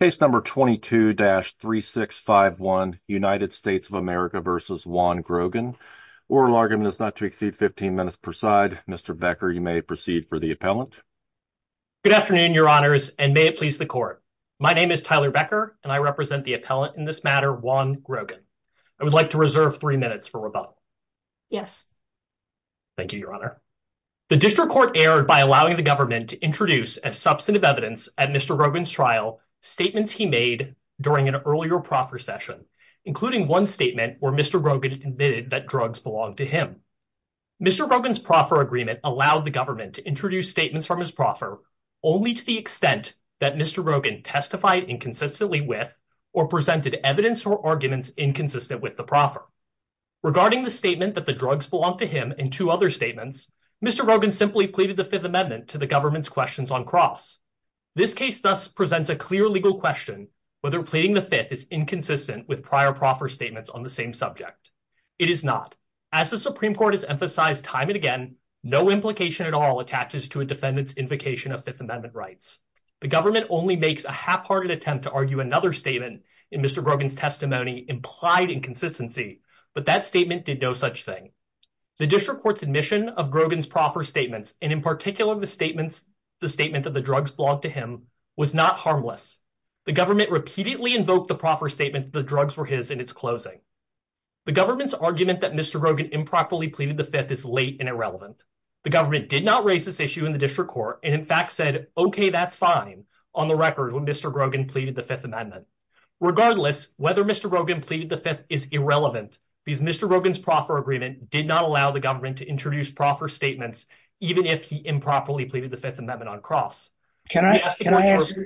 Case number 22-3651, United States of America v. Juan Grogan. Oral argument is not to exceed 15 minutes per side. Mr. Becker, you may proceed for the appellant. Good afternoon, your honors, and may it please the court. My name is Tyler Becker and I represent the appellant in this matter, Juan Grogan. I would like to reserve three minutes for rebuttal. Yes. Thank you, your honor. The district court erred by allowing the government to introduce as substantive evidence at Mr. Grogan's trial, statements he made during an earlier proffer session, including one statement where Mr. Grogan admitted that drugs belonged to him. Mr. Grogan's proffer agreement allowed the government to introduce statements from his proffer only to the extent that Mr. Grogan testified inconsistently with or presented evidence or arguments inconsistent with the proffer. Regarding the statement that the drugs belonged to him and two other statements, Mr. Grogan simply pleaded the Fifth Amendment to the government's questions on cross. This case thus presents a clear legal question whether pleading the Fifth is inconsistent with prior proffer statements on the same subject. It is not. As the Supreme Court has emphasized time and again, no implication at all attaches to a defendant's invocation of Fifth Amendment rights. The government only makes a half-hearted attempt to argue another statement in Mr. Grogan's testimony implied inconsistency, but that statement did no such thing. The district court's admission of Grogan's proffer statements, and in particular the statement that the drugs belonged to him, was not harmless. The government repeatedly invoked the proffer statement that the drugs were his in its closing. The government's argument that Mr. Grogan improperly pleaded the Fifth is late and irrelevant. The government did not raise this issue in the district court, and in fact said, okay, that's fine on the record when Mr. Grogan pleaded the Fifth Amendment. Regardless, whether Mr. Grogan pleaded the Fifth is irrelevant because Mr. Grogan's proffer agreement did not allow the government to introduce proffer statements, even if he improperly pleaded the Fifth Amendment on cross. Can I ask you a question? I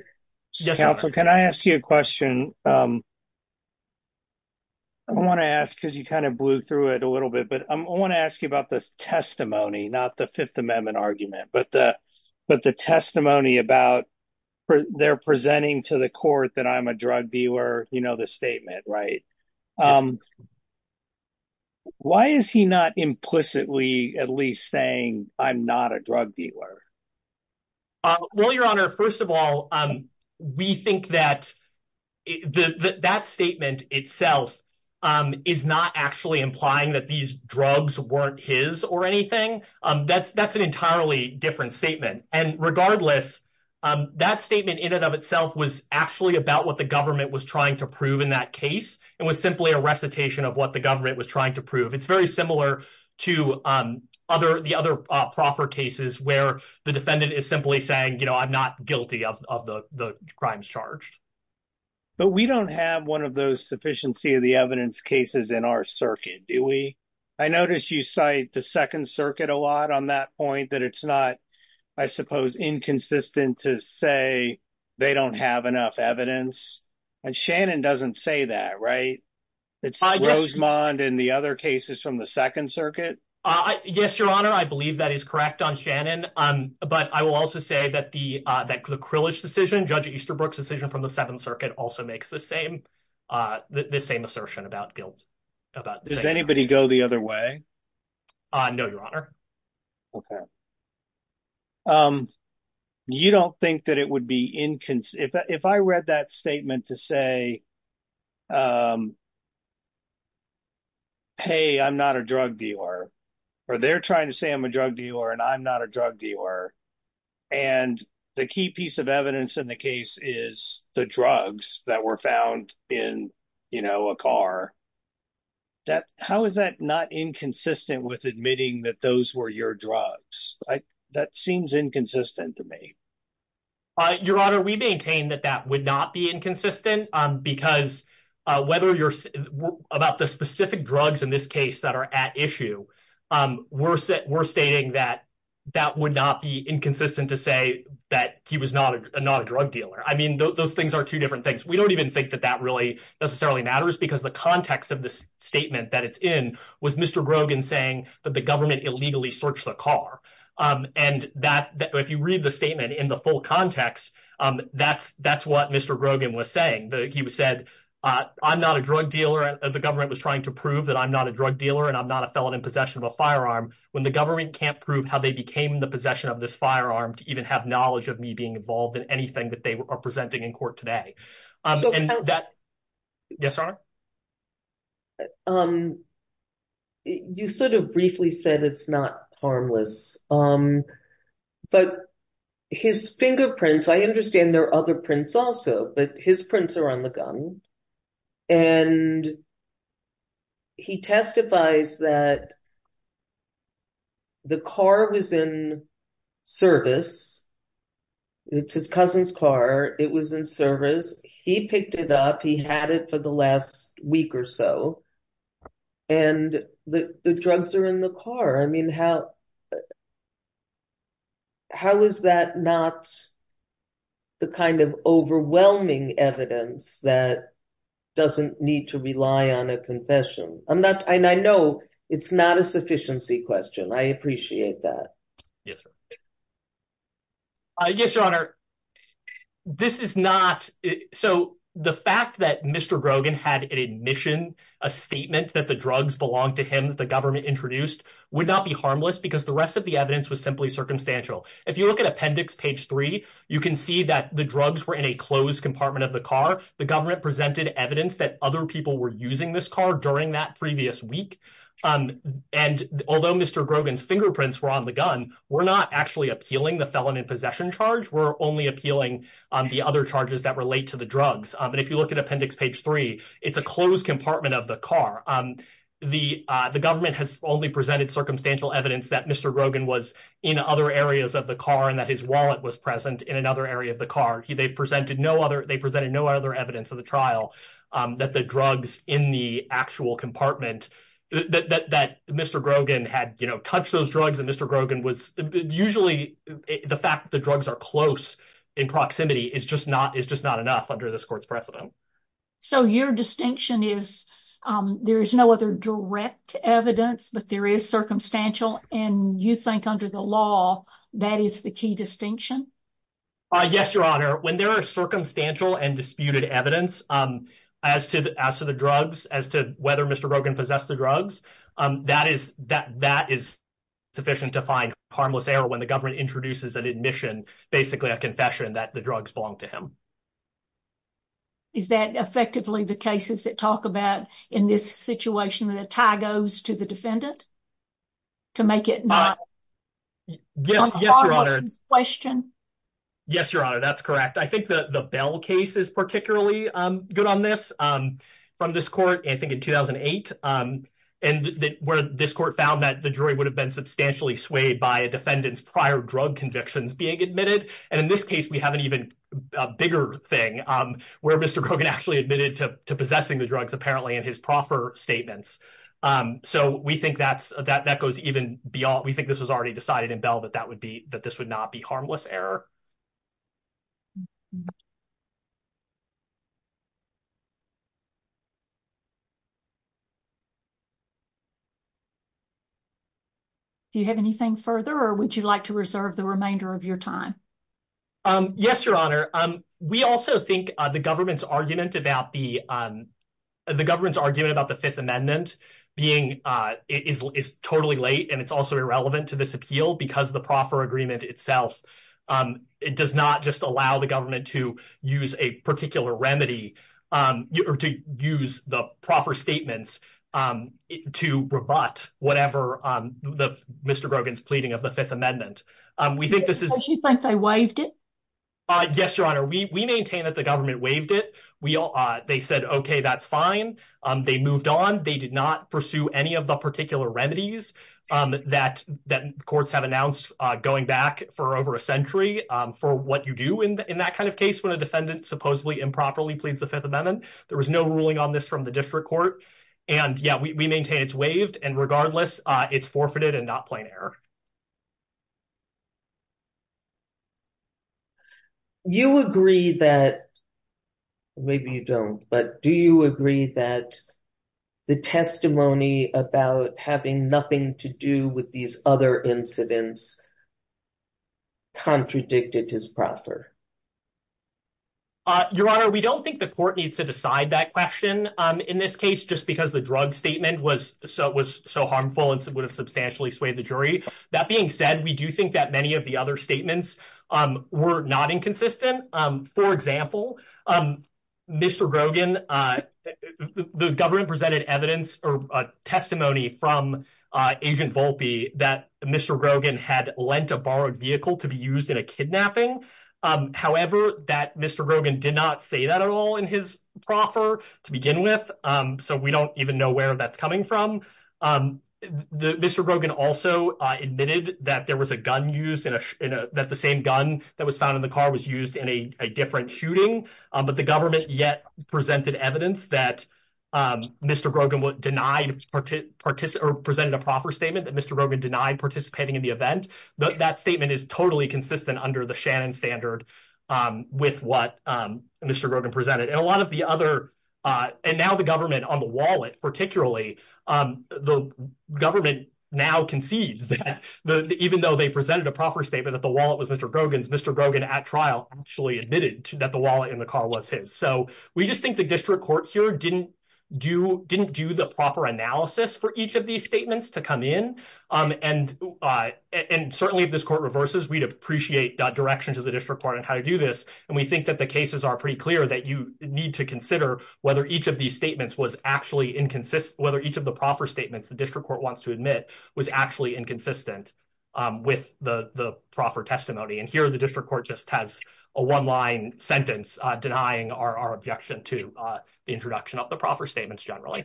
want to ask because you kind of blew through it a little bit, but I want to ask you about this testimony, not the Fifth Amendment argument, but the testimony about their presenting to the court that I'm a drug dealer, you know, the statement, right? Why is he not implicitly at least saying I'm not a drug dealer? Well, your honor, first of all, we think that that statement itself is not actually implying that these drugs weren't his or anything. That's that's an entirely different statement. And regardless, that statement in and of itself was actually about what the government was trying to prove in that case. It was simply a recitation of what the government was trying to prove. It's very similar to other the other proffer cases where the defendant is simply saying, you know, I'm not guilty of the crimes charged. But we don't have one of those sufficiency of the evidence cases in our circuit, do we? I noticed you cite the Second Circuit a lot on that point that it's not. I suppose inconsistent to say they don't have enough evidence. And Shannon doesn't say that, right? It's Rosemond and the other cases from the Second Circuit. Yes, your honor. I believe that is correct on Shannon. But I will also say that the that the Krillage decision, Judge Easterbrook's decision from the Second Circuit also makes the same the same assertion about guilt about does anybody go the other way? No, your honor. OK. You don't think that it would be inconsistent if I read that statement to say. Hey, I'm not a drug dealer or they're trying to say I'm a drug dealer and I'm not a drug dealer. And the key piece of evidence in the case is the drugs that were found in, you know, a car. That how is that not inconsistent with admitting that those were your drugs? That seems inconsistent to me. Your honor, we maintain that that would not be inconsistent, because whether you're about the specific drugs in this case that are at issue, we're we're stating that that would not be inconsistent to say that he was not a not a drug dealer. I mean, those things are two different things. We don't even think that that really necessarily matters because the context of this statement that it's in was Mr. Grogan saying that the government illegally searched the car and that if you read the statement in the full context, that's that's what Mr. Grogan was saying. He said, I'm not a drug dealer. The government was trying to prove that I'm not a drug dealer and I'm not a felon in possession of a firearm. When the government can't prove how they became the possession of this firearm to even have knowledge of me being involved in anything that they are presenting in court today. Yes. You sort of briefly said it's not harmless. But his fingerprints, I understand there are other prints also, but his prints are on the gun. And he testifies that the car was in service. It's his cousin's car. It was in service. He picked it up. He had it for the last week or so. And the drugs are in the car. I mean, how how is that not the kind of overwhelming evidence that doesn't need to rely on a confession? I'm not I know it's not a sufficiency question. I appreciate that. Yes. Yes, your honor. This is not. So the fact that Mr. Grogan had an admission, a statement that the drugs belong to him, the evidence that the government introduced would not be harmless because the rest of the evidence was simply circumstantial. If you look at appendix page 3, you can see that the drugs were in a closed compartment of the car. The government presented evidence that other people were using this car during that previous week. And although Mr. Grogan's fingerprints were on the gun, we're not actually appealing the felon in possession charge. We're only appealing the other charges that relate to the drugs. And if you look at appendix page 3, it's a closed compartment of the car. The the government has only presented circumstantial evidence that Mr. Grogan was in other areas of the car and that his wallet was present in another area of the car. They've presented no other they presented no other evidence of the trial that the drugs in the actual compartment that Mr. Grogan had touched those drugs and Mr. Grogan was usually the fact the drugs are close in proximity is just not is just not enough under this court's precedent. So your distinction is there is no other direct evidence, but there is circumstantial. And you think under the law, that is the key distinction. Yes, your honor. When there are circumstantial and disputed evidence as to the as to the drugs as to whether Mr. Rogan possessed the drugs, that is that that is sufficient to find harmless error. When the government introduces an admission, basically a confession that the drugs belong to him. Is that effectively the cases that talk about in this situation that a tie goes to the defendant? To make it not? Yes. Yes, your honor. Question. Yes, your honor. That's correct. I think the Bell case is particularly good on this from this court. I think in 2008 and where this court found that the jury would have been substantially swayed by a defendant's prior drug convictions being admitted. And in this case, we have an even bigger thing where Mr. Rogan actually admitted to possessing the drugs, apparently in his proffer statements. So we think that's that that goes even beyond. We think this was already decided in Bell that that would be that this would not be harmless error. Do you have anything further, or would you like to reserve the remainder of your time? Yes, your honor. We also think the government's argument about the. The government's argument about the 5th amendment being is totally late, and it's also irrelevant to this appeal because the proffer agreement itself. It does not just allow the government to use a particular remedy or to use the proffer statements to rebut whatever the Mr. Rogan's pleading of the 5th amendment. We think this is like they waived it. Yes, your honor. We maintain that the government waived it. We all they said, OK, that's fine. They moved on. They did not pursue any of the particular remedies that that courts have announced going back for over a century for what you do in that kind of case. When a defendant supposedly improperly pleads the 5th amendment, there was no ruling on this from the district court. And, yeah, we maintain it's waived. And regardless, it's forfeited and not plain error. You agree that. Maybe you don't, but do you agree that the testimony about having nothing to do with these other incidents? Contradicted his proffer. Your honor, we don't think the court needs to decide that question in this case just because the drug statement was so was so harmful and would have substantially swayed the jury. That being said, we do think that many of the other statements were not inconsistent. We do think that there was some evidence that Mr. Grogan had borrowed a vehicle to be used in a kidnapping, however, that Mr. Grogan did not say that at all in his proffer to begin with. So we don't even know where that's coming from. Mr. Grogan also admitted that there was a gun used in a that the same gun that was found in the car was used in a different shooting. But the government yet presented evidence that Mr. Grogan denied or presented a proffer statement that Mr. Grogan denied participating in the event. That statement is totally consistent under the Shannon standard with what Mr. Grogan presented. And a lot of the other and now the government on the wallet, particularly the government now concedes that even though they presented a proffer statement that the wallet was Mr. Grogan's, Mr. Grogan at trial actually admitted that the wallet in the car was his. So we just think the district court here didn't do didn't do the proper analysis for each of these statements to come in. And certainly if this court reverses, we'd appreciate direction to the district court on how to do this. And we think that the cases are pretty clear that you need to consider whether each of these statements was actually inconsistent, whether each of the proffer statements the district court wants to admit was actually inconsistent with the proffer testimony. And here the district court just has a one line sentence denying our objection to the introduction of the proffer statements generally.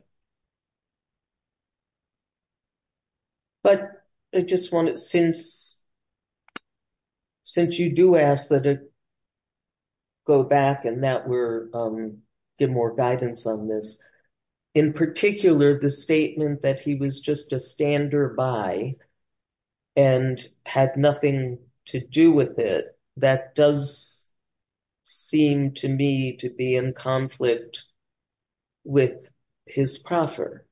But I just want it since since you do ask that go back and that we're get more guidance on this, in particular, the statement that he was just a standard by and had nothing to do with it. That does seem to me to be in conflict with his proffer.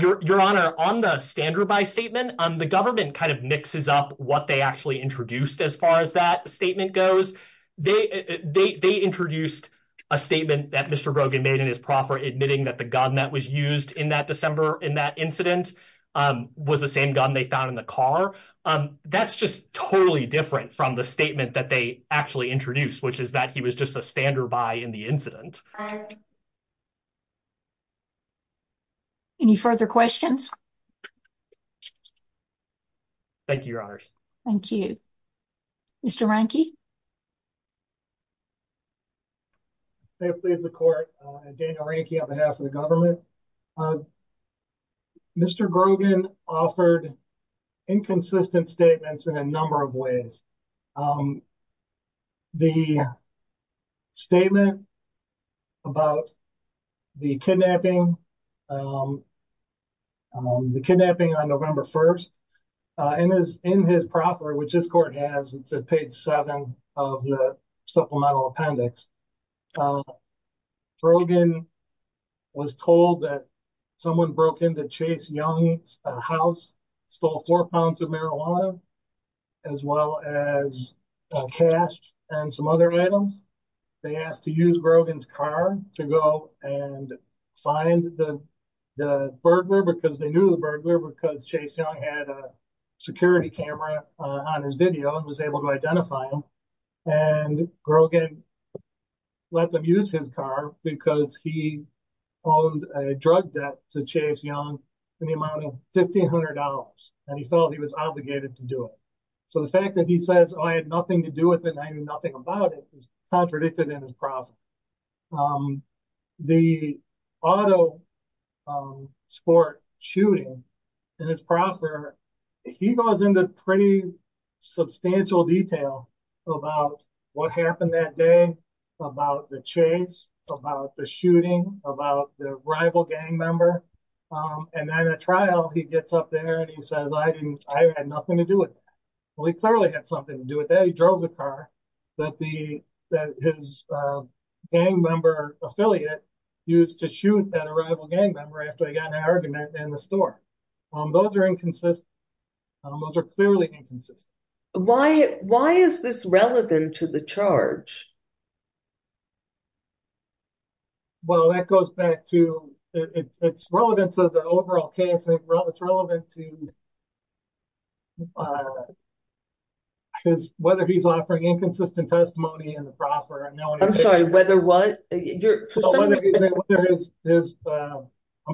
Your Honor, on the standard by statement on the government kind of mixes up what they actually introduced. As far as that statement goes, they they introduced a statement that Mr. Brogan made in his proffer admitting that the gun that was used in that December in that incident was the same gun they found in the car. That's just totally different from the statement that they actually introduced, which is that he was just a standard by in the incident. All right. Any further questions. Thank you, Your Honor. Thank you, Mr. Ranke. Please the court. On behalf of the government. Mr. Brogan offered inconsistent statements in a number of ways. The statement about the kidnapping, the kidnapping on November 1st, and is in his proffer, which is court has paid seven of the supplemental appendix. Brogan was told that someone broke into Chase Young's house, stole four pounds of marijuana as well as cash and some other items. They asked to use Brogan's car to go and find the burglar because they knew the burglar because Chase had a security camera on his video and was able to identify him. And Brogan let them use his car because he owned a drug debt to Chase Young in the amount of $1,500. And he felt he was obligated to do it. So the fact that he says I had nothing to do with it, I knew nothing about it, is contradicted in his proffer. The auto sport shooting in his proffer, he goes into pretty substantial detail about what happened that day, about the chase, about the shooting, about the rival gang member. And then at trial, he gets up there and he says I had nothing to do with it. Well, he clearly had something to do with that. He drove the car that his gang member affiliate used to shoot that rival gang member after he got an argument in the store. Those are inconsistent. Those are clearly inconsistent. Why is this relevant to the charge? Well, that goes back to, it's relevant to the overall case. It's relevant to whether he's offering inconsistent testimony in the proffer. I'm sorry, whether what? I'm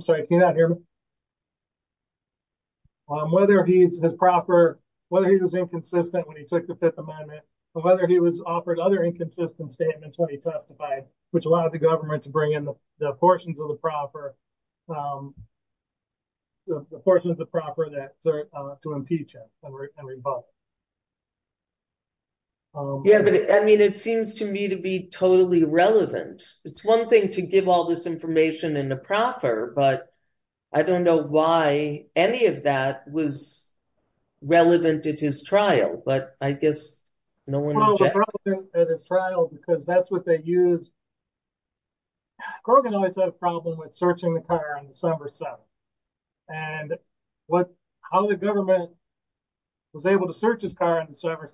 sorry, can you not hear me? Whether he's his proffer, whether he was inconsistent when he took the Fifth Amendment, whether he was offered other inconsistent statements when he testified, which allowed the government to bring in the portions of the proffer, the portions of the proffer to impeach him and rebut. Yeah, but I mean, it seems to me to be totally relevant. It's one thing to give all this information in the proffer, but I don't know why any of that was relevant at his trial, but I guess no one objected. Well, it was relevant at his trial because that's what they used. Grogan always had a problem with searching the car on December 7th. And how the government was able to search his car on December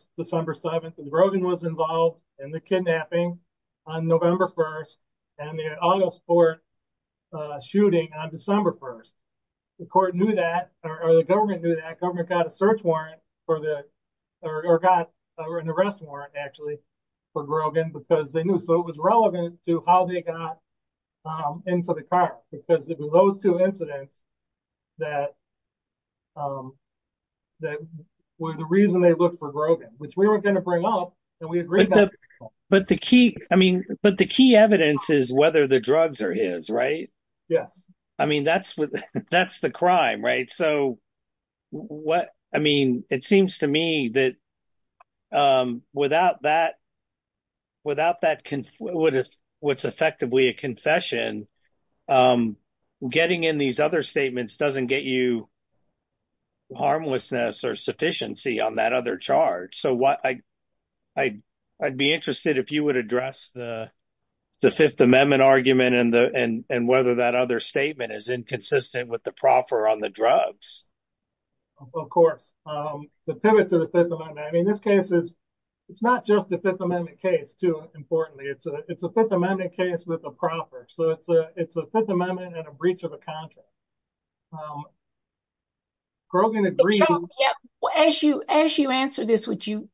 7th, and Grogan was involved in the kidnapping on November 1st and the auto sport shooting on December 1st. The court knew that, or the government knew that. The government got an arrest warrant actually for Grogan because they knew. So it was relevant to how they got into the car because it was those two incidents that were the reason they looked for Grogan, which we were going to bring up and we agreed that. But the key evidence is whether the drugs are his, right? Yes. I mean, that's the crime, right? So what I mean, it seems to me that without that. Without that, what if what's effectively a confession? Getting in these other statements doesn't get you. Harmlessness or sufficiency on that other charge. So what I'd be interested if you would address the 5th Amendment argument and whether that other statement is inconsistent with the proffer on the drugs. Of course, the pivot to the 5th Amendment. I mean, this case is it's not just the 5th Amendment case, too. Importantly, it's a it's a 5th Amendment case with a proffer. So it's a it's a 5th Amendment and a breach of a contract. Grogan agreed. Yeah. As you as you answer this, would you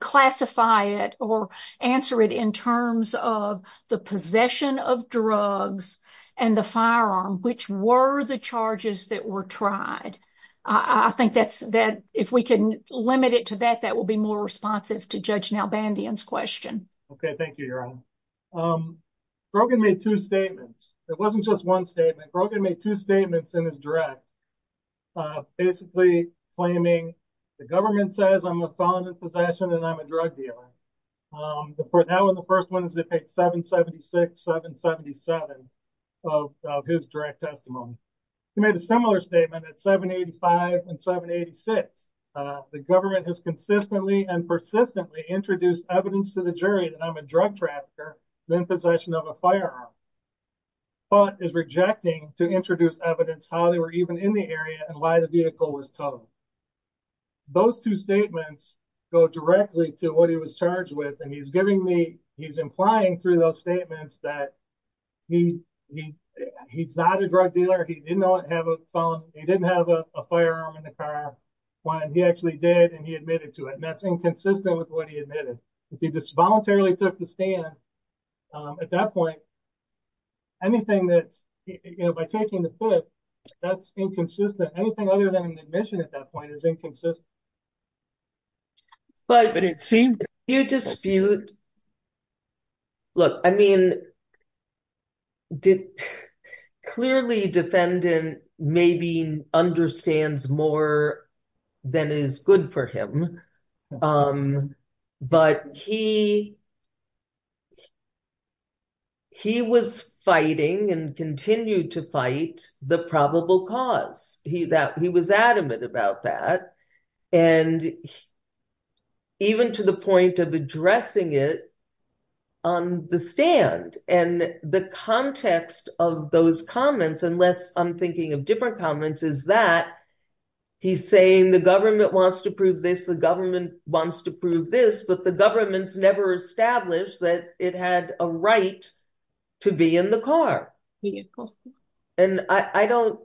classify it or answer it in terms of the possession of drugs and the firearm, which were the charges that were tried? I think that's that if we can limit it to that, that will be more responsive to Judge Nalbandian's question. OK, thank you. Brogan made two statements. It wasn't just one statement. Brogan made two statements in his draft. Basically, claiming the government says I'm a felon in possession and I'm a drug dealer. For now, in the first ones, they paid 776, 777 of his direct testimony. He made a similar statement at 785 and 786. The government has consistently and persistently introduced evidence to the jury that I'm a drug trafficker in possession of a firearm. But is rejecting to introduce evidence how they were even in the area and why the vehicle was towed. Those two statements go directly to what he was charged with, and he's giving the he's implying through those statements that he he he's not a drug dealer. He did not have a phone. He didn't have a firearm in the car when he actually did. And he admitted to it. That's inconsistent with what he admitted. He just voluntarily took the stand at that point. Anything that you know, by taking the foot, that's inconsistent. Anything other than an admission at that point is inconsistent. But it seems you dispute. Look, I mean. Did clearly defendant maybe understands more than is good for him. But he. He was fighting and continued to fight the probable cause that he was adamant about that. And even to the point of addressing it on the stand and the context of those comments, unless I'm thinking of different comments, is that he's saying the government wants to prove this. The government wants to prove this. But the government's never established that it had a right to be in the car. And I don't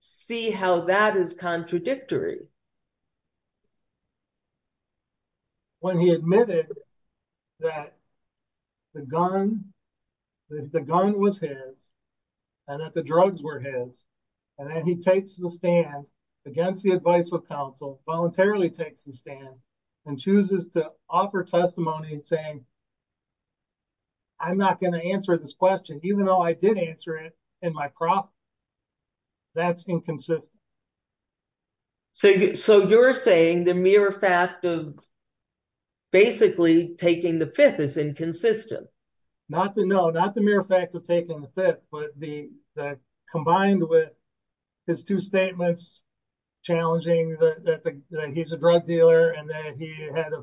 see how that is contradictory. When he admitted that the gun, the gun was his. And that the drugs were his. And then he takes the stand against the advice of counsel voluntarily takes the stand and chooses to offer testimony saying. I'm not going to answer this question, even though I did answer it in my crop. That's inconsistent. So, so you're saying the mere fact of. Basically, taking the fifth is inconsistent. Not the no, not the mere fact of taking the fifth, but the combined with his two statements. Challenging that he's a drug dealer and that he had a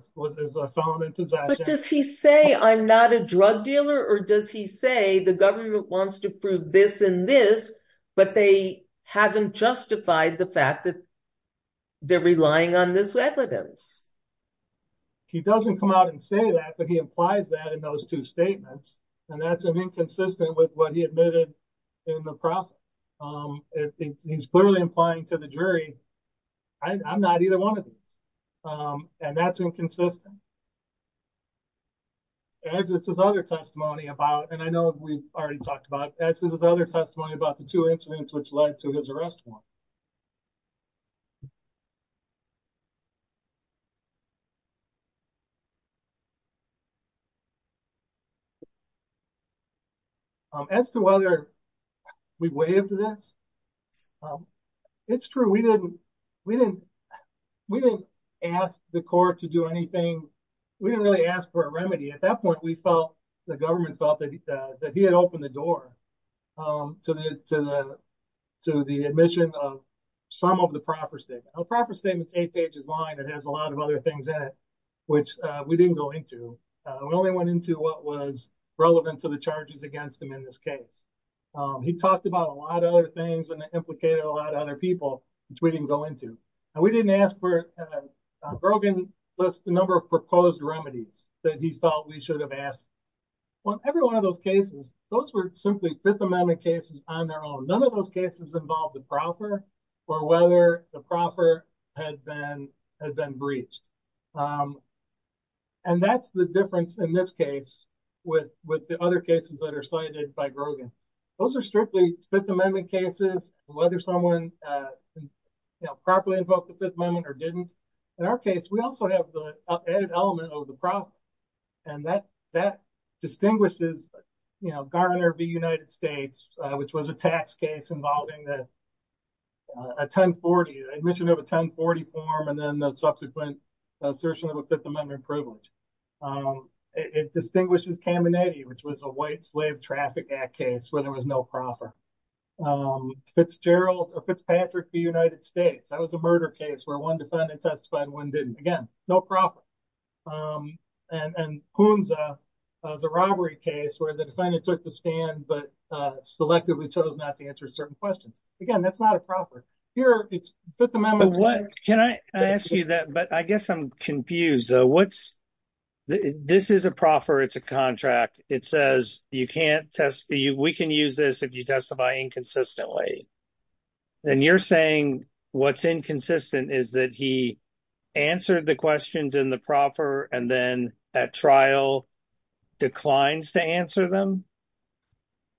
phone and does he say I'm not a drug dealer or does he say the government wants to prove this and this. But they haven't justified the fact that. They're relying on this evidence. He doesn't come out and say that, but he implies that in those two statements. And that's an inconsistent with what he admitted in the prop. He's clearly implying to the jury. I'm not either one of these. And that's inconsistent. This is other testimony about, and I know we've already talked about this is other testimony about the two incidents, which led to his arrest. As to whether. We waived this. It's true. We didn't. We didn't. We didn't ask the court to do anything. We didn't really ask for a remedy. At that point, we felt the government felt that he had opened the door to the, to the, to the admission of some of the proper state proper statements eight pages line. It has a lot of other things that which we didn't go into. We only went into what was relevant to the charges against him in this case. He talked about a lot of other things and implicated a lot of other people, which we didn't go into. And we didn't ask for broken list the number of proposed remedies that he felt we should have asked. Well, every one of those cases, those were simply fifth amendment cases on their own. None of those cases involved the proper or whether the proper had been had been breached. And that's the difference in this case with with the other cases that are cited by Grogan. Those are strictly fifth amendment cases, whether someone properly invoked the Fifth Amendment or didn't. In our case, we also have the added element of the problem. And that that distinguishes Garner v. United States, which was a tax case involving a 1040 admission of a 1040 form and then the subsequent assertion of a Fifth Amendment privilege. It distinguishes Caminiti, which was a white slave traffic act case where there was no proper Fitzgerald Fitzpatrick v. United States. That was a murder case where one defendant testified and one didn't. Again, no proper. And who owns the robbery case where the defendant took the stand but selectively chose not to answer certain questions. Again, that's not a proper here. It's Fifth Amendment. What can I ask you that? But I guess I'm confused. What's this is a proffer. It's a contract. It says you can't test you. We can use this if you testify inconsistently. And you're saying what's inconsistent is that he answered the questions in the proffer and then at trial declines to answer them.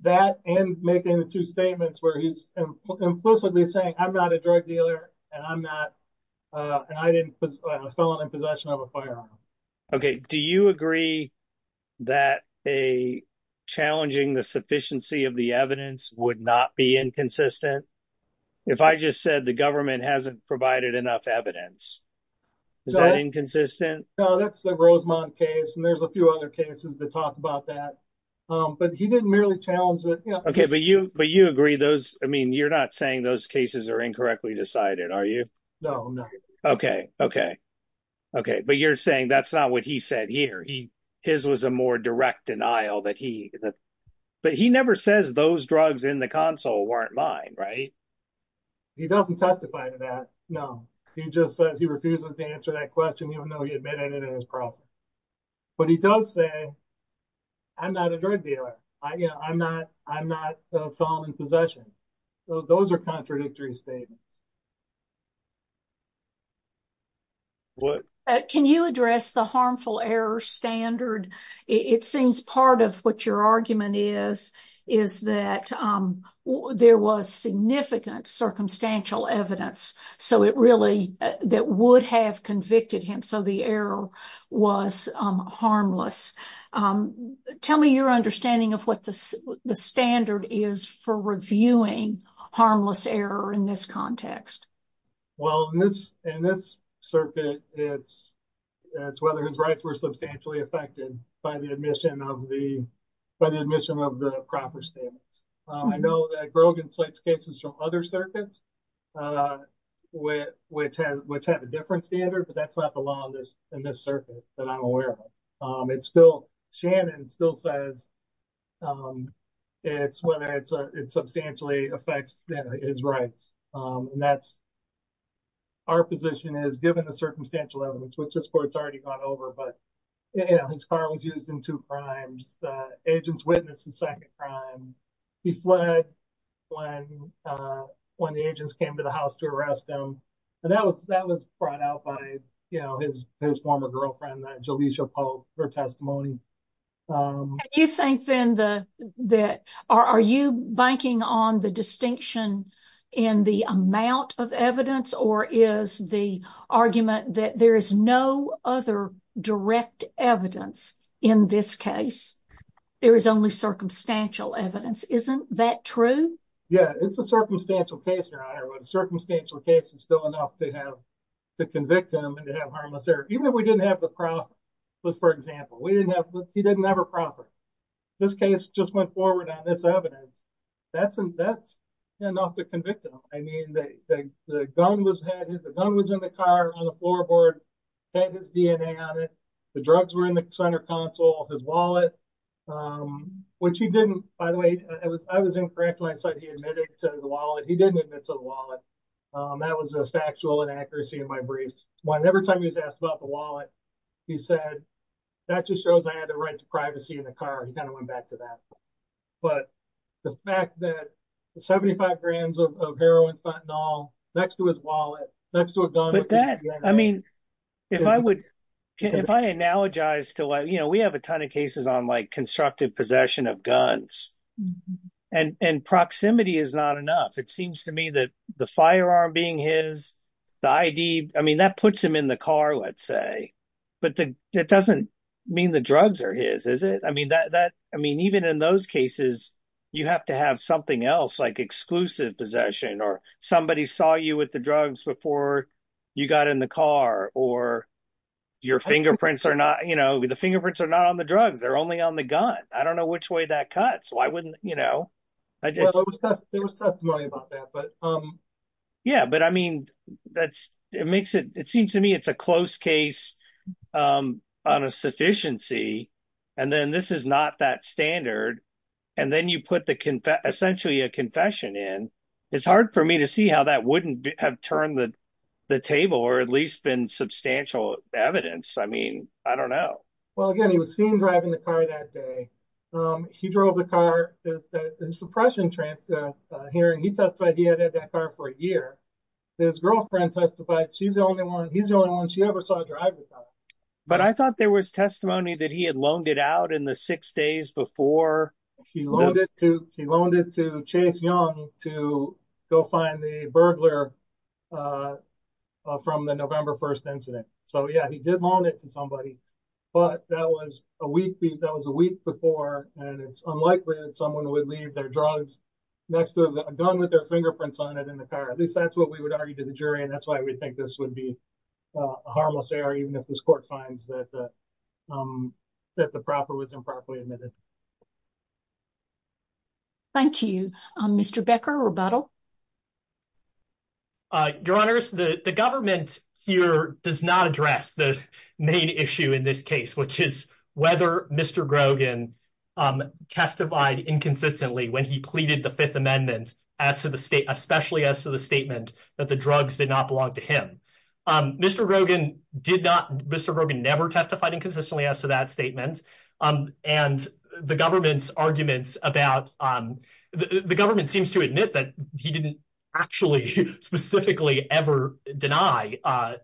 That and making the two statements where he's implicitly saying, I'm not a drug dealer and I'm not. And I didn't put my phone in possession of a firearm. OK, do you agree that a challenging the sufficiency of the evidence would not be inconsistent? If I just said the government hasn't provided enough evidence, is that inconsistent? No, that's the Rosemont case. And there's a few other cases to talk about that. But he didn't merely challenge that. OK, but you but you agree those. I mean, you're not saying those cases are incorrectly decided, are you? No, no. OK. OK. OK. But you're saying that's not what he said here. He his was a more direct denial that he that. But he never says those drugs in the console weren't mine. Right. He doesn't testify to that. No, he just says he refuses to answer that question, even though he admitted it as a problem. But he does say. I'm not a drug dealer. I'm not I'm not in possession. Those are contradictory statements. What can you address the harmful error standard? It seems part of what your argument is, is that there was significant circumstantial evidence. So it really that would have convicted him. So the error was harmless. Tell me your understanding of what the standard is for reviewing harmless error in this context. Well, in this in this circuit, it's it's whether his rights were substantially affected by the admission of the by the admission of the proper standards. I know that Brogan slates cases from other circuits where which had which had a different standard. But that's not the law in this in this circuit that I'm aware of. It's still Shannon still says it's whether it's it's substantially affects his rights. And that's. Our position is given the circumstantial elements, which is where it's already gone over. But, you know, his car was used in two crimes. Agents witnessed the second crime. He fled when when the agents came to the house to arrest him. And that was that was brought out by, you know, his his former girlfriend, Jalisha Pope, her testimony. You think then the that are you banking on the distinction in the amount of evidence or is the argument that there is no other direct evidence in this case? There is only circumstantial evidence. Isn't that true? Yeah, it's a circumstantial case. Circumstantial case is still enough to have to convict him and to have harmless there. Even if we didn't have the profit, for example, we didn't have he didn't have a profit. This case just went forward on this evidence. That's that's enough to convict him. I mean, the gun was the gun was in the car on the floorboard and his DNA on it. The drugs were in the center console, his wallet, which he didn't. By the way, I was in France when I said he admitted to the wallet. He didn't admit to the wallet. That was a factual inaccuracy in my brief. Whenever time he was asked about the wallet, he said that just shows I had the right to privacy in the car. He kind of went back to that. But the fact that 75 grams of heroin, fentanyl next to his wallet, next to a gun. But that I mean, if I would if I analogize to, you know, we have a ton of cases on like constructive possession of guns and proximity is not enough. It seems to me that the firearm being his ID, I mean, that puts him in the car, let's say. But it doesn't mean the drugs are his, is it? I mean, that that I mean, even in those cases, you have to have something else like exclusive possession or somebody saw you with the drugs before. You got in the car or your fingerprints are not, you know, the fingerprints are not on the drugs. They're only on the gun. I don't know which way that cuts. Why wouldn't you know? There was testimony about that. But yeah, but I mean, that's it makes it it seems to me it's a close case on a sufficiency. And then this is not that standard. And then you put the essentially a confession in. It's hard for me to see how that wouldn't have turned the table or at least been substantial evidence. I mean, I don't know. Well, again, he was seen driving the car that day. He drove the car, the suppression hearing. He testified he had had that car for a year. His girlfriend testified she's the only one. He's the only one she ever saw drive the car. But I thought there was testimony that he had loaned it out in the six days before. He loaned it to he loaned it to Chase Young to go find the burglar from the November 1st incident. So, yeah, he did loan it to somebody. But that was a week. That was a week before. And it's unlikely that someone would leave their drugs next to a gun with their fingerprints on it in the car. At least that's what we would argue to the jury. And that's why we think this would be a harmless error, even if this court finds that that the proper was improperly admitted. Thank you, Mr. Becker. Rebuttal. Your Honor, the government here does not address the main issue in this case, which is whether Mr. Grogan testified inconsistently when he pleaded the Fifth Amendment as to the state, especially as to the statement that the drugs did not belong to him. Mr. Grogan did not. Mr. Grogan never testified inconsistently as to that statement. And the government's arguments about the government seems to admit that he didn't actually specifically ever deny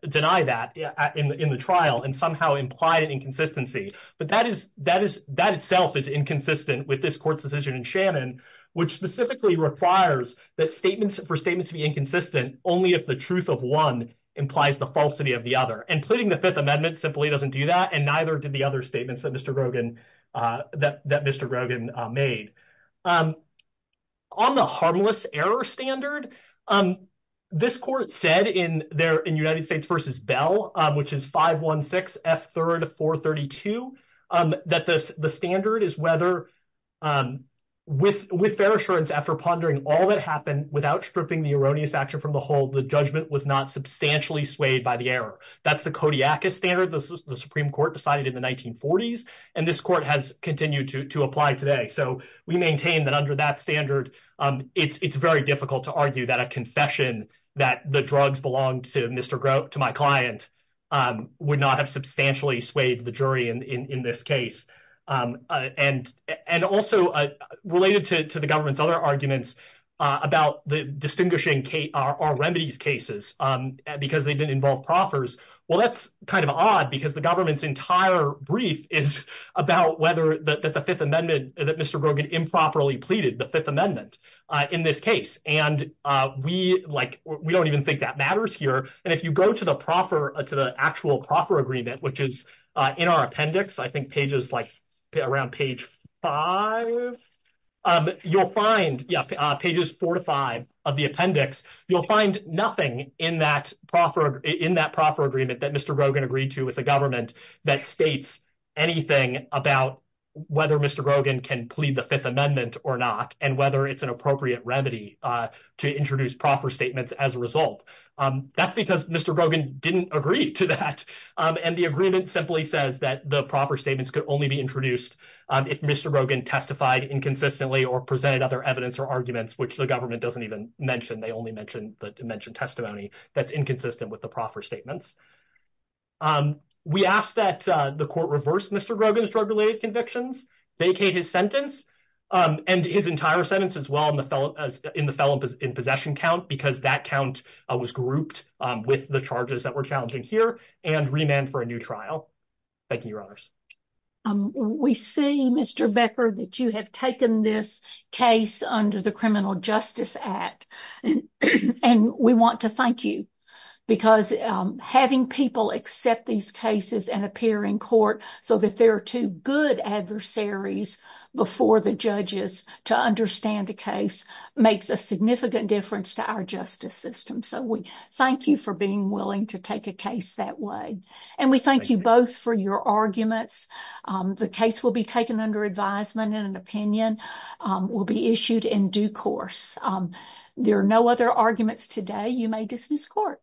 deny that in the trial and somehow imply an inconsistency. But that is that is that itself is inconsistent with this court's decision in Shannon, which specifically requires that statements for statements to be inconsistent only if the truth of one implies the falsity of the other. And pleading the Fifth Amendment simply doesn't do that. And neither did the other statements that Mr. that Mr. Grogan made on the harmless error standard. This court said in there in United States versus Bell, which is five one six F third of four thirty two, that the standard is whether with with fair assurance after pondering all that happened without stripping the erroneous action from the whole, the judgment was not substantially swayed by the error. That's the Kodiak standard. The Supreme Court decided in the 1940s and this court has continued to apply today. So we maintain that under that standard, it's very difficult to argue that a confession that the drugs belong to Mr. Grote to my client would not have substantially swayed the jury in this case. And and also related to the government's other arguments about the distinguishing our remedies cases because they didn't involve proffers. Well, that's kind of odd because the government's entire brief is about whether that the Fifth Amendment that Mr. Grogan improperly pleaded the Fifth Amendment in this case. And we like we don't even think that matters here. And if you go to the proffer to the actual proffer agreement, which is in our appendix, I think pages like around page five, you'll find pages four to five of the appendix. You'll find nothing in that proffer in that proffer agreement that Mr. Grogan agreed to with the government that states anything about whether Mr. Grogan can plead the Fifth Amendment or not and whether it's an appropriate remedy to introduce proffer statements as a result. That's because Mr. Grogan didn't agree to that. And the agreement simply says that the proffer statements could only be introduced if Mr. Grogan testified inconsistently or presented other evidence or arguments, which the government doesn't even mention. They only mentioned that mentioned testimony that's inconsistent with the proffer statements. We ask that the court reverse Mr. Grogan's drug related convictions, vacate his sentence and his entire sentence as well. And the fellow in the felon in possession count, because that count was grouped with the charges that were challenging here and remand for a new trial. Thank you, Your Honors. We see, Mr. Becker, that you have taken this case under the Criminal Justice Act. And we want to thank you because having people accept these cases and appear in court so that there are two good adversaries before the judges to understand the case makes a significant difference to our justice system. So we thank you for being willing to take a case that way. And we thank you both for your arguments. The case will be taken under advisement and an opinion will be issued in due course. There are no other arguments today. You may dismiss court.